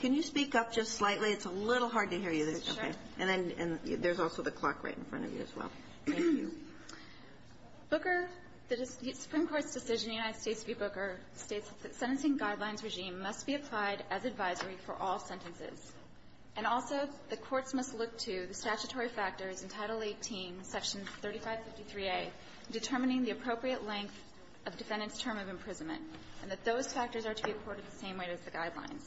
Can you speak up just slightly? It's a little hard to hear you, and there's also the clock right in front of you as well. Booker, the Supreme Court's decision in the United States v. Booker states that sentencing guidelines regime must be applied as advisory for all sentences, and also the courts must look to the statutory factors in Title 18, Section 3553A, determining the appropriate length of defendant's term of imprisonment, and that those factors are to be apported the same way as the guidelines.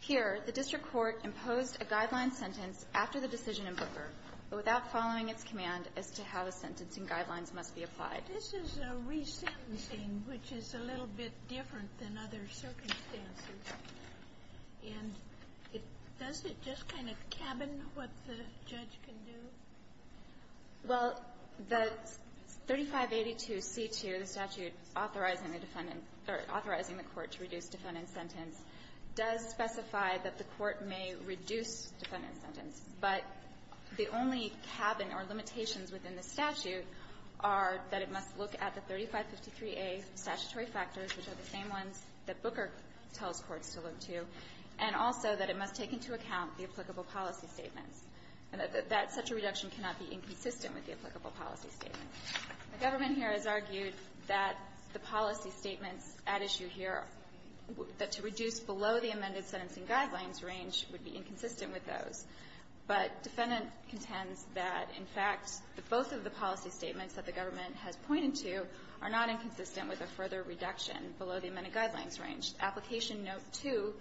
Here, the district court imposed a guideline sentence after the decision in Booker, but without following its command as to how the sentencing guidelines must be applied. Sotomayor, this is a resentencing which is a little bit different than other circumstances. And does it just kind of cabin what the judge can do? Well, the 3582C2, the statute authorizing the defendant or authorizing the court to reduce defendant's sentence, does specify that the court may reduce defendant's sentence, but the only cabin or limitations within the statute are that it must look at the 3553A statutory factors, which are the same ones that Booker tells courts to look to, and also that it must take into account the applicable policy statements, and that such a reduction cannot be inconsistent with the applicable policy statement. The government here has argued that the policy statements at issue here, that to reduce below the amended sentencing guidelines range would be inconsistent with those. But defendant contends that, in fact, that both of the policy statements that the government has pointed to are not inconsistent with a further reduction below the amended guidelines range. Application note 2,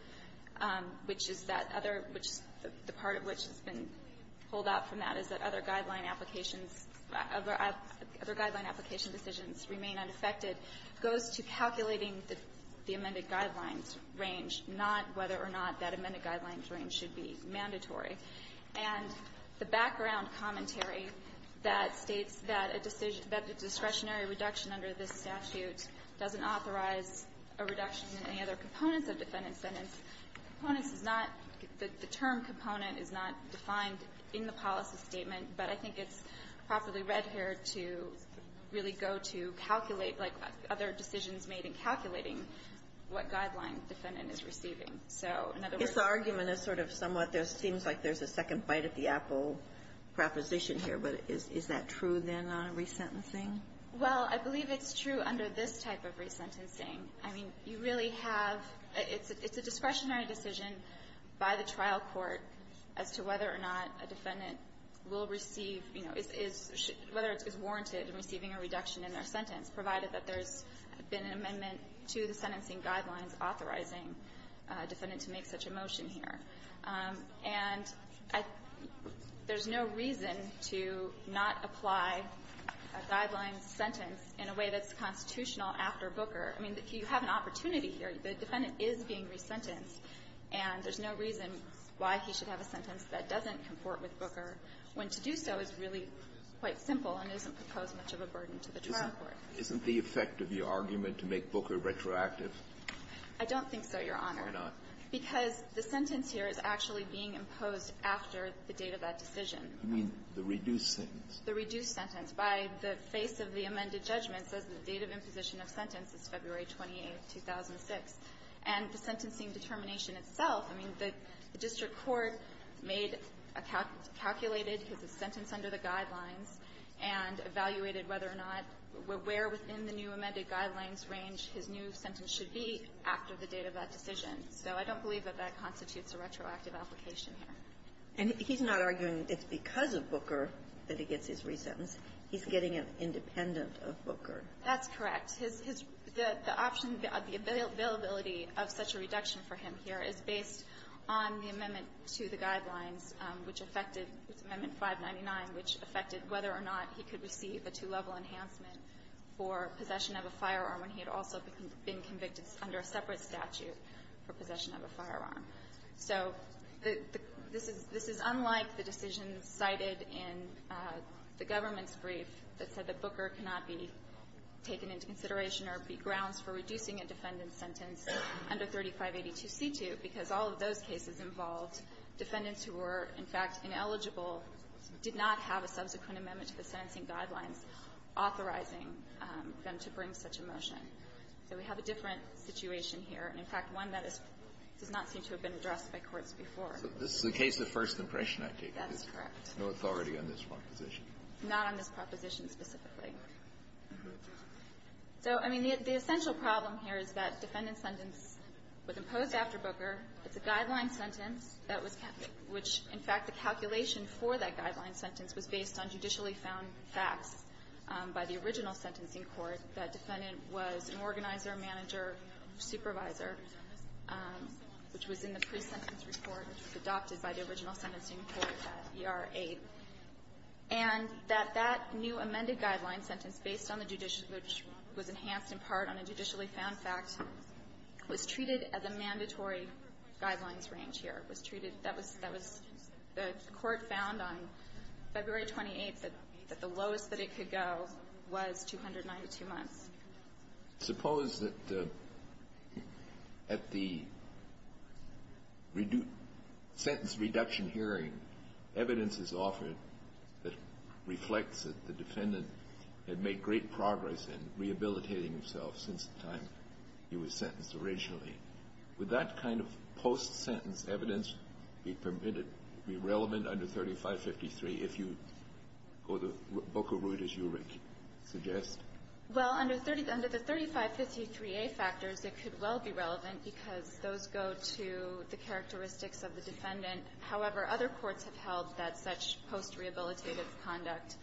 which is that other – the part of which has been pulled out from that is that other guideline applications – other guideline application decisions remain unaffected – goes to calculating the amended guidelines range, not whether or not that amended guidelines range should be mandatory. And the background commentary that states that a decision – that the discretionary reduction under this statute doesn't authorize a reduction in any other components of defendant's sentence – components is not – the term component is not defined in the policy statement, but I think it's properly read here to really go to calculate, like, other decisions made in calculating what guideline defendant is receiving. So, in other words – Kagan, your argument is sort of somewhat – there seems like there's a second bite at the apple proposition here, but is that true, then, on resentencing? Well, I believe it's true under this type of resentencing. I mean, you really have – it's a discretionary decision by the trial court as to whether or not a defendant will receive – you know, is – whether it's warranted receiving a reduction in their sentence, provided that there's been an amendment to the sentencing guidelines authorizing a defendant to make such a motion here. And I – there's no reason to not apply a guideline sentence in a way that's constitutional after Booker. I mean, you have an opportunity here. The defendant is being resentenced, and there's no reason why he should have a sentence that doesn't comport with Booker when to do so is really quite simple and doesn't pose much of a burden to the trial court. Isn't the effect of your argument to make Booker retroactive? I don't think so, Your Honor. Why not? Because the sentence here is actually being imposed after the date of that decision. You mean the reduced sentence? The reduced sentence. By the face of the amended judgment says the date of imposition of sentence is February 28, 2006. And he's not arguing it's because of Booker that he gets his resentence. He's getting it independent of Booker. That's correct. His – the option, the availability of such a reduction for him here is based on the Amendment 599, which affected whether or not he could receive a two-level enhancement for possession of a firearm when he had also been convicted under a separate statute for possession of a firearm. So this is unlike the decision cited in the government's brief that said that Booker cannot be taken into consideration or be grounds for reducing a defendant's sentence under 3582c2, because all of those cases involved defendants who were, in fact, did not have a subsequent amendment to the sentencing guidelines authorizing them to bring such a motion. So we have a different situation here, and, in fact, one that is – does not seem to have been addressed by courts before. So this is a case of first impression, I take it? That's correct. No authority on this proposition. Not on this proposition specifically. So, I mean, the essential problem here is that defendant's sentence was imposed after Booker. It's a guideline sentence that was – which, in fact, the calculation for that guideline sentence was based on judicially found facts by the original sentencing court that defendant was an organizer, manager, supervisor, which was in the pre-sentence report adopted by the original sentencing court, that ER-8. And that that new amended guideline sentence based on the judicial – which was enhanced in part on a judicially found fact was treated at the mandatory guidelines range here. It was treated – that was – the court found on February 28th that the lowest that it could go was 292 months. Suppose that at the sentence reduction hearing, evidence is offered that reflects that the defendant had made great progress in rehabilitating himself since the time he was sentenced originally. Would that kind of post-sentence evidence be permitted – be relevant under 3553 if you go the Booker route, as you suggest? Well, under the 3553a factors, it could well be relevant because those go to the characteristics of the defendant. However, other courts have held that such post-rehabilitative conduct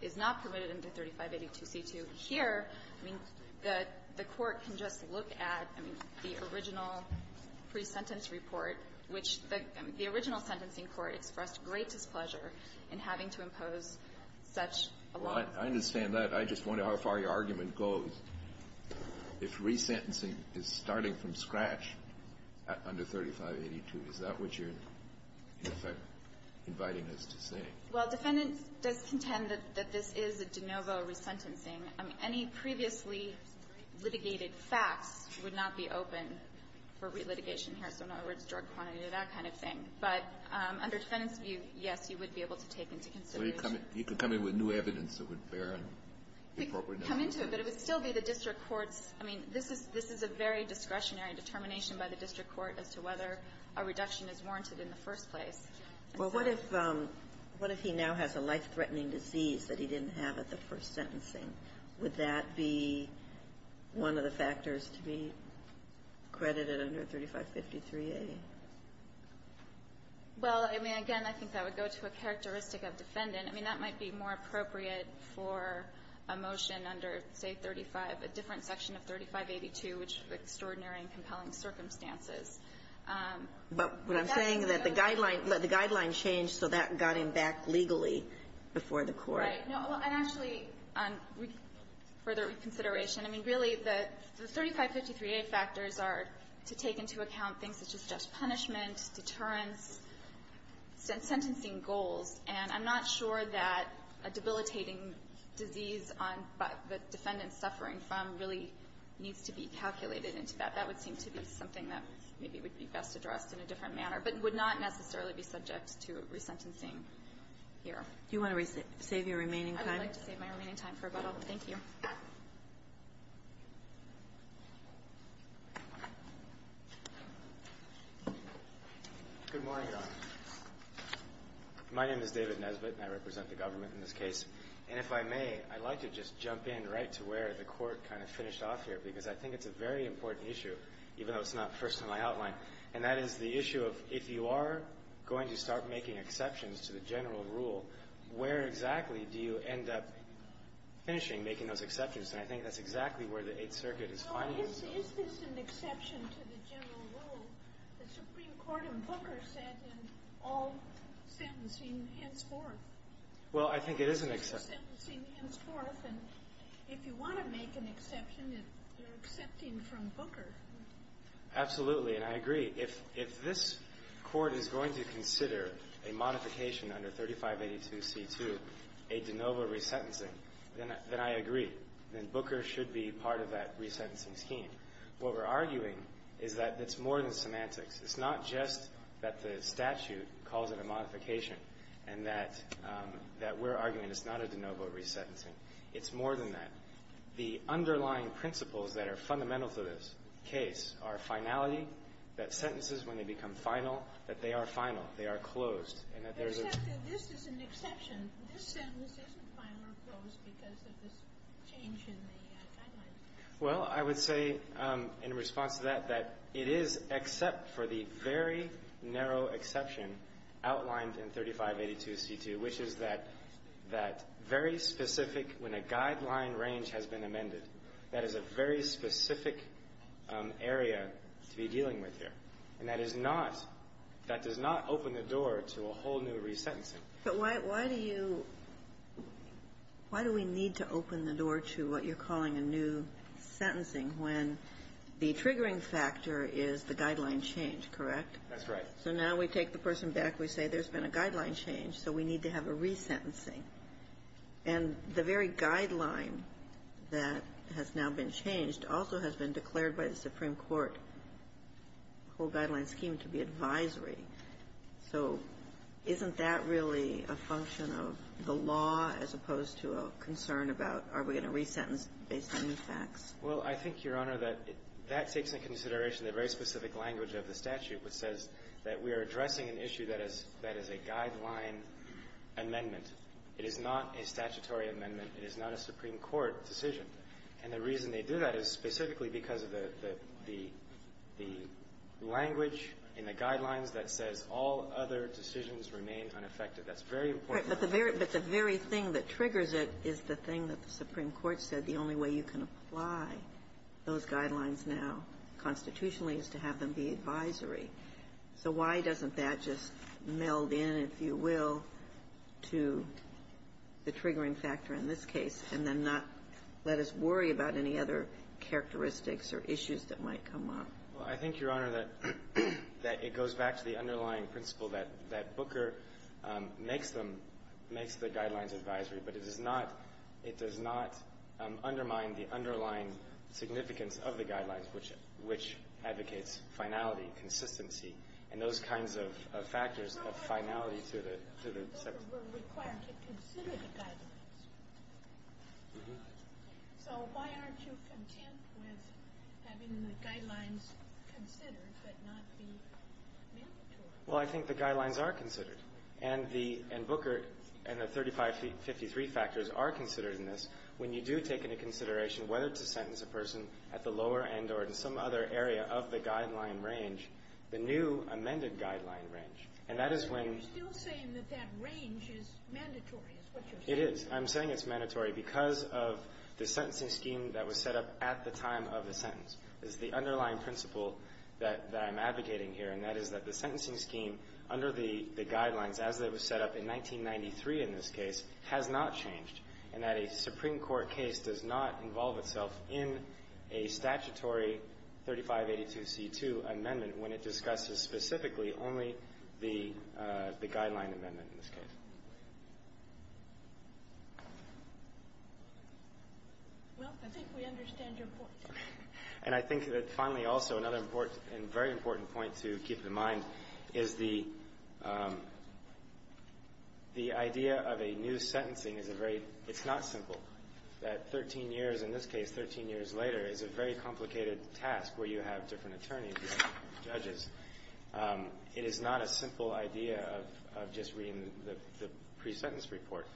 is not permitted under 3582c2. Here, I mean, the court can just look at, I mean, the original pre-sentence report, which the original sentencing court expressed great displeasure in having to impose such a law. Well, I understand that. I just wonder how far your argument goes. If resentencing is starting from scratch under 3582, is that what you're, in effect, inviting us to say? Well, defendants does contend that this is a de novo resentencing. I mean, any previously litigated facts would not be open for relitigation here, so in other words, drug quantity, that kind of thing. But under defendants' view, yes, you would be able to take into consideration You could come in with new evidence that would bear an appropriate number. come into it, but it would still be the district court's – I mean, this is a very discretionary determination by the district court as to whether a reduction is warranted in the first place. Well, what if he now has a life-threatening disease that he didn't have at the first sentencing? Would that be one of the factors to be credited under 3553a? Well, I mean, again, I think that would go to a characteristic of defendant. I mean, that might be more appropriate for a motion under, say, 35 – a different section of 3582, which is extraordinary and compelling circumstances. But what I'm saying is that the guideline – the guideline changed, so that got him back legally before the court. Right. No. And actually, on further consideration, I mean, really, the 3553a factors are to take into account things such as just punishment, deterrence, sentencing goals. And I'm not sure that a debilitating disease on – that defendants suffering from really needs to be calculated into that. That would seem to be something that maybe would be best addressed in a different manner, but would not necessarily be subject to resentencing here. Do you want to save your remaining time? I would like to save my remaining time for rebuttal. Thank you. Good morning, Your Honor. My name is David Nesbitt, and I represent the government in this case. And if I may, I'd like to just jump in right to where the Court kind of finished off here, because I think it's a very important issue, even though it's not first in my outline. And that is the issue of if you are going to start making exceptions to the general rule, where exactly do you end up finishing making those exceptions? And I think that's exactly where the Eighth Circuit is finding themselves. So is this an exception to the general rule that Supreme Court and Booker said, and all sentencing henceforth? Well, I think it is an exception. Sentencing henceforth, and if you want to make an exception, you're accepting from Booker. Absolutely, and I agree. If this Court is going to consider a modification under 3582C2, a de novo resentencing, then I agree. Then Booker should be part of that resentencing scheme. What we're arguing is that it's more than semantics. It's not just that the statute calls it a modification, and that we're arguing it's not a de novo resentencing. It's more than that. The underlying principles that are fundamental to this case are finality, that this is an exception. This sentence isn't final or closed because of this change in the guidelines. Well, I would say in response to that, that it is except for the very narrow exception outlined in 3582C2, which is that very specific, when a guideline range has been amended, that is a very specific area to be dealing with here. And that is not, that does not open the door to a whole new resentencing. But why do you, why do we need to open the door to what you're calling a new sentencing when the triggering factor is the guideline change, correct? That's right. So now we take the person back. We say there's been a guideline change, so we need to have a resentencing. And the very guideline that has now been changed also has been declared by the Supreme Court, the whole guideline scheme, to be advisory. So isn't that really a function of the law as opposed to a concern about are we going to resentence based on these facts? Well, I think, Your Honor, that that takes into consideration the very specific language of the statute, which says that we are addressing an issue that is a guideline amendment. It is not a statutory amendment. It is not a Supreme Court decision. And the reason they do that is specifically because of the language in the guidelines that says all other decisions remain unaffected. That's very important. But the very thing that triggers it is the thing that the Supreme Court said, the only way you can apply those guidelines now constitutionally is to have them be advisory. So why doesn't that just meld in, if you will, to the triggering factor in this case, and then not let us worry about any other characteristics or issues that might come up? Well, I think, Your Honor, that it goes back to the underlying principle that Booker makes them the guidelines advisory, but it does not undermine the underlying significance of the guidelines, which advocates finality, consistency, and those things. So why aren't you content with having the guidelines considered but not be mandatory? Well, I think the guidelines are considered. And the – and Booker and the 3553 factors are considered in this when you do take into consideration whether to sentence a person at the lower end or at some other area of the guideline range, the new amended guideline range. And that is when – But you're still saying that that range is mandatory, is what you're saying. It is. I'm saying it's mandatory because of the sentencing scheme that was set up at the time of the sentence. It's the underlying principle that I'm advocating here, and that is that the sentencing scheme under the guidelines, as it was set up in 1993 in this case, has not changed, and that a Supreme Court case does not involve itself in a statutory 3582c2 amendment when it discusses specifically only the guideline amendment in this case. Well, I think we understand your point. And I think that finally also another important – and very important point to keep in mind is the idea of a new sentencing is a very – it's not simple. That 13 years – in this case, 13 years later – is a very complicated task where you have different attorneys, different judges. It is not a simple idea of just having to read the pre-sentence report.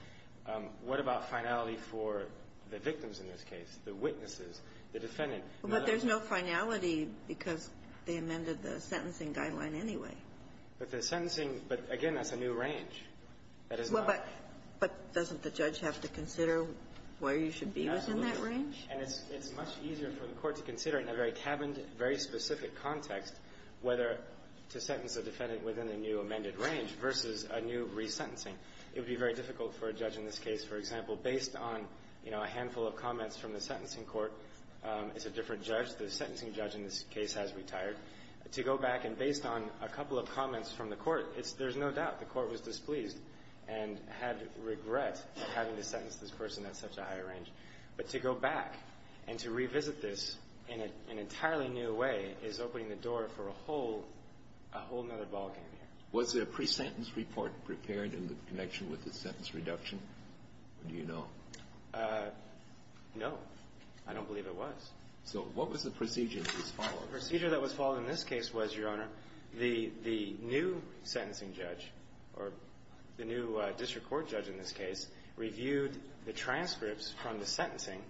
What about finality for the victims in this case, the witnesses, the defendant? But there's no finality because they amended the sentencing guideline anyway. But the sentencing – but, again, that's a new range. But doesn't the judge have to consider where you should be within that range? And it's much easier for the Court to consider in a very cabined, very specific context whether to sentence a defendant within the new amended range versus a new resentencing. It would be very difficult for a judge in this case, for example, based on, you know, a handful of comments from the sentencing court. It's a different judge. The sentencing judge in this case has retired. To go back and based on a couple of comments from the Court, it's – there's no doubt the Court was displeased and had regret at having to sentence this person at such a high range. But to go back and to revisit this in an entirely new way is opening the door for a whole – a whole other ballgame here. Was a pre-sentence report prepared in connection with the sentence reduction? Do you know? No. I don't believe it was. So what was the procedure that was followed? The procedure that was followed in this case was, Your Honor, the new sentencing judge or the new district court judge in this case reviewed the transcripts from the sentencing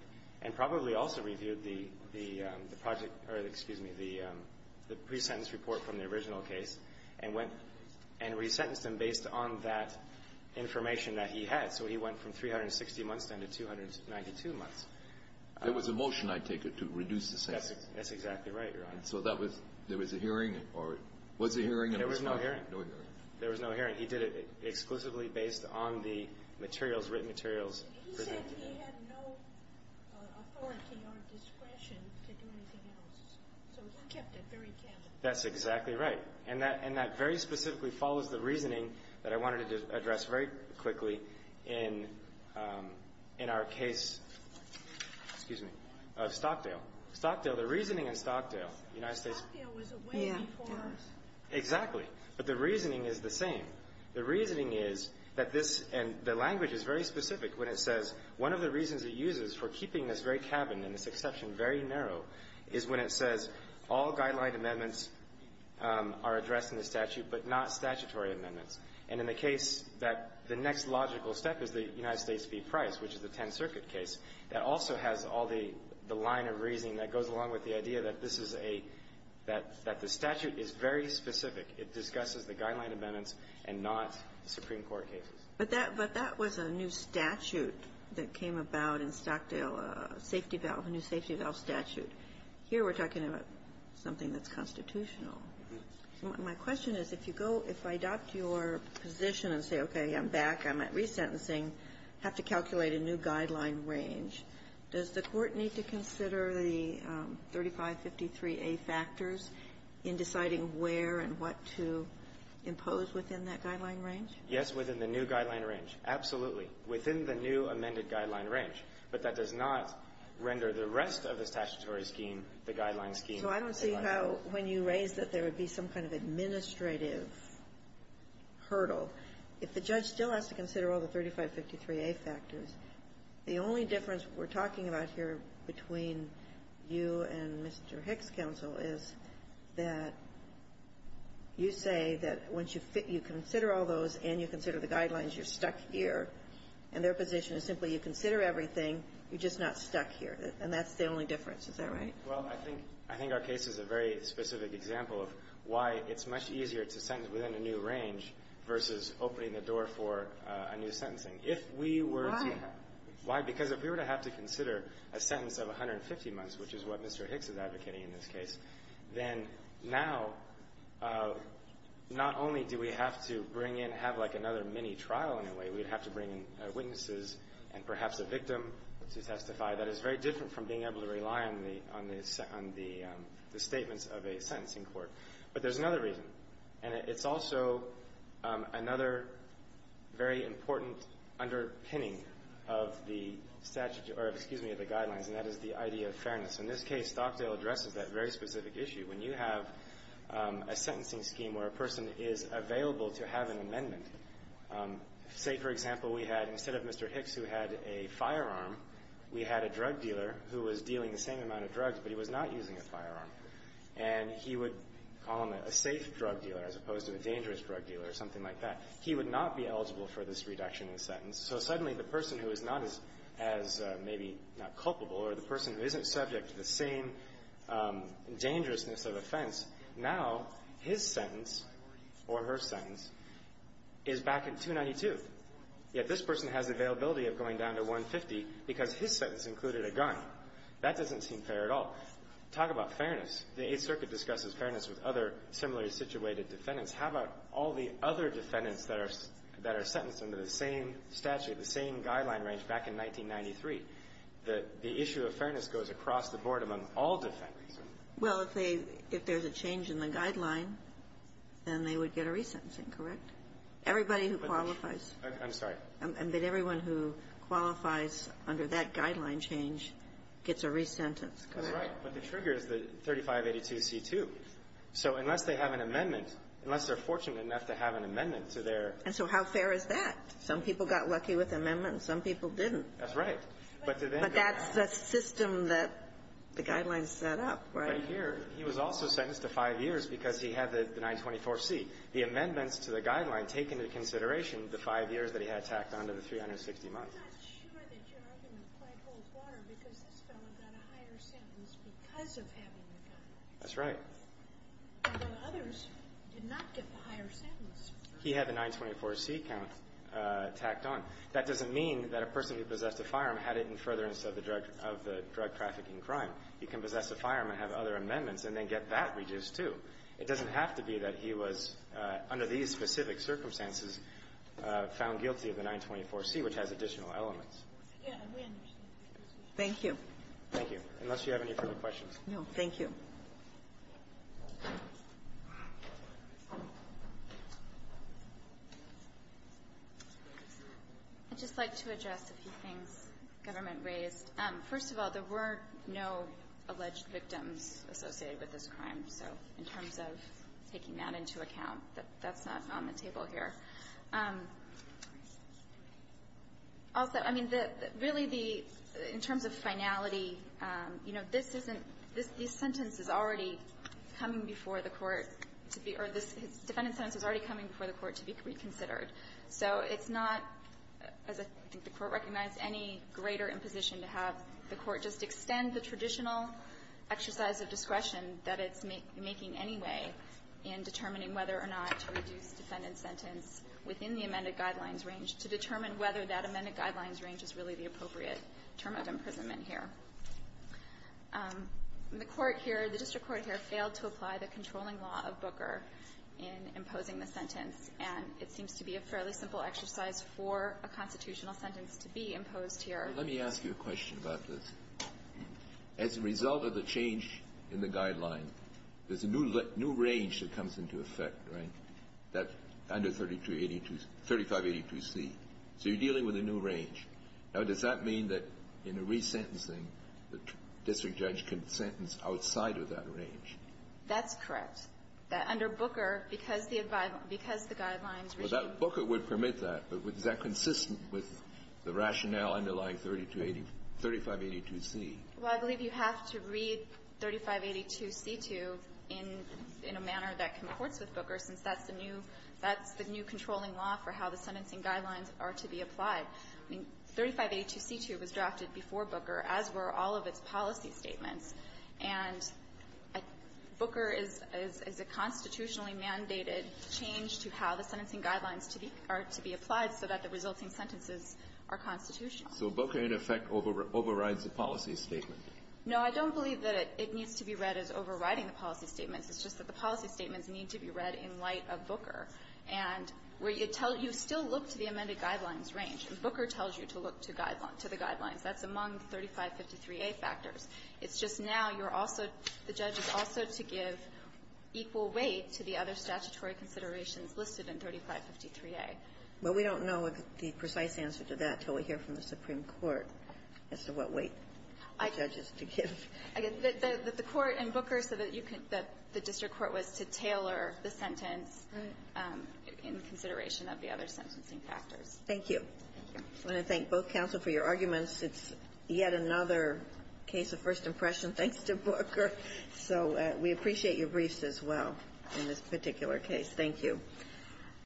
and probably also reviewed the project – or, excuse me, the pre-sentence report from the original case and went and resentenced him based on that information that he had. So he went from 360 months down to 292 months. There was a motion, I take it, to reduce the sentence. That's exactly right, Your Honor. So that was – there was a hearing or was a hearing? There was no hearing. No hearing. There was no hearing. He did it exclusively based on the materials, written materials. He said he had no authority or discretion to do anything else. So he kept it very candid. That's exactly right. And that very specifically follows the reasoning that I wanted to address very quickly in our case – excuse me – of Stockdale. Stockdale, the reasoning in Stockdale, United States – Stockdale was away before – Exactly. But the reasoning is the same. The reasoning is that this – and the language is very specific when it says one of the reasons it uses for keeping this very cabin and this exception very narrow is when it says all guideline amendments are addressed in the statute but not statutory amendments. And in the case that the next logical step is the United States v. Price, which is the Tenth Circuit case, that also has all the line of reasoning that goes along with the idea that this is a – that the statute is very specific. It discusses the guideline amendments and not Supreme Court cases. But that was a new statute that came about in Stockdale, a safety valve, a new safety valve statute. Here we're talking about something that's constitutional. My question is, if you go – if I adopt your position and say, okay, I'm back, I'm resentencing, have to calculate a new guideline range, does the Court need to consider the 3553A factors in deciding where and what to impose within that guideline range? Yes, within the new guideline range. Absolutely. Within the new amended guideline range. But that does not render the rest of the statutory scheme the guideline scheme. So I don't see how, when you raise that there would be some kind of administrative hurdle, if the judge still has to consider all the 3553A factors, the only difference we're talking about here between you and Mr. Hick's counsel is that you say that once you fit – you consider all those and you consider the guidelines, you're stuck here. And their position is simply you consider everything, you're just not stuck here. And that's the only difference. Is that right? Well, I think – I think our case is a very specific example of why it's much easier to sentence within a new range versus opening the door for a new sentencing. If we were to – Why? Why? Because if we were to have to consider a sentence of 150 months, which is what Mr. Hick's is advocating in this case, then now not only do we have to bring in – have like another mini-trial in a way, we'd have to bring in witnesses and perhaps a victim to testify. That is very different from being able to rely on the statements of a sentencing court. But there's another reason. And it's also another very important underpinning of the statute – or excuse me, of the guidelines, and that is the idea of fairness. In this case, Stockdale addresses that very specific issue. When you have a sentencing scheme where a person is available to have an amendment – say, for example, we had – instead of Mr. Hick's who had a firearm, we had a drug dealer who was dealing the same amount of drugs, but he was not using a firearm. And he would call him a safe drug dealer as opposed to a dangerous drug dealer or something like that. He would not be eligible for this reduction in sentence. So suddenly the person who is not as maybe not culpable or the person who isn't subject to the same dangerousness of offense, now his sentence or her sentence is back at 292. Yet this person has availability of going down to 150 because his sentence included a gun. That doesn't seem fair at all. Talk about fairness. The Eighth Circuit discusses fairness with other similarly situated defendants. How about all the other defendants that are – that are sentenced under the same statute, the same guideline range back in 1993? The issue of fairness goes across the board among all defendants. Well, if they – if there's a change in the guideline, then they would get a resentencing, correct? Everybody who qualifies. I'm sorry. But everyone who qualifies under that guideline change gets a resentence, correct? That's right. But the trigger is the 3582C2. So unless they have an amendment, unless they're fortunate enough to have an amendment to their – And so how fair is that? Some people got lucky with amendments. Some people didn't. That's right. But to them – But that's the system that the guidelines set up, right? Right here. He was also sentenced to five years because he had the 924C. The amendments to the guideline take into consideration the five years that he had tacked on to the 360 months. I'm not sure that your argument quite holds water because this fellow got a higher sentence because of having the gun. That's right. Although others did not get the higher sentence. He had the 924C count tacked on. That doesn't mean that a person who possessed a firearm had it in furtherance of the drug – of the drug trafficking crime. He can possess a firearm and have other amendments and then get that reduced, too. It doesn't have to be that he was, under these specific circumstances, found guilty of the 924C, which has additional elements. Yeah. We understand. Thank you. Thank you. Unless you have any further questions. No. Thank you. I'd just like to address a few things the government raised. First of all, there were no alleged victims associated with this crime. So in terms of taking that into account, that's not on the table here. Also, I mean, really the – in terms of finality, you know, this isn't – this sentence is already coming before the Court to be – or this defendant's sentence is already coming before the Court to be reconsidered. So it's not, as I think the Court recognized, any greater imposition to have the making any way in determining whether or not to reduce defendant's sentence within the amended guidelines range to determine whether that amended guidelines range is really the appropriate term of imprisonment here. The Court here – the district court here failed to apply the controlling law of Booker in imposing the sentence, and it seems to be a fairly simple exercise for a constitutional sentence to be imposed here. Let me ask you a question about this. As a result of the change in the guidelines, there's a new range that comes into effect, right, that – under 3582C. So you're dealing with a new range. Now, does that mean that in a resentencing, the district judge can sentence outside of that range? That's correct. That under Booker, because the guidelines were – Well, I believe you have to read 3582C-2 in a manner that comports with Booker since that's the new – that's the new controlling law for how the sentencing guidelines are to be applied. I mean, 3582C-2 was drafted before Booker, as were all of its policy statements. And Booker is a constitutionally mandated change to how the sentencing guidelines are to be applied so that the resulting sentences are constitutional. So Booker, in effect, overrides the policy statement. No, I don't believe that it needs to be read as overriding the policy statements. It's just that the policy statements need to be read in light of Booker. And where you tell – you still look to the amended guidelines range, and Booker tells you to look to the guidelines. That's among 3553A factors. It's just now you're also – the judge is also to give equal weight to the other 3553A. Well, we don't know the precise answer to that until we hear from the Supreme Court as to what weight the judge is to give. The court in Booker said that you can – that the district court was to tailor the sentence in consideration of the other sentencing factors. Thank you. Thank you. I want to thank both counsel for your arguments. It's yet another case of first impression thanks to Booker. So we appreciate your briefs as well in this particular case. Thank you.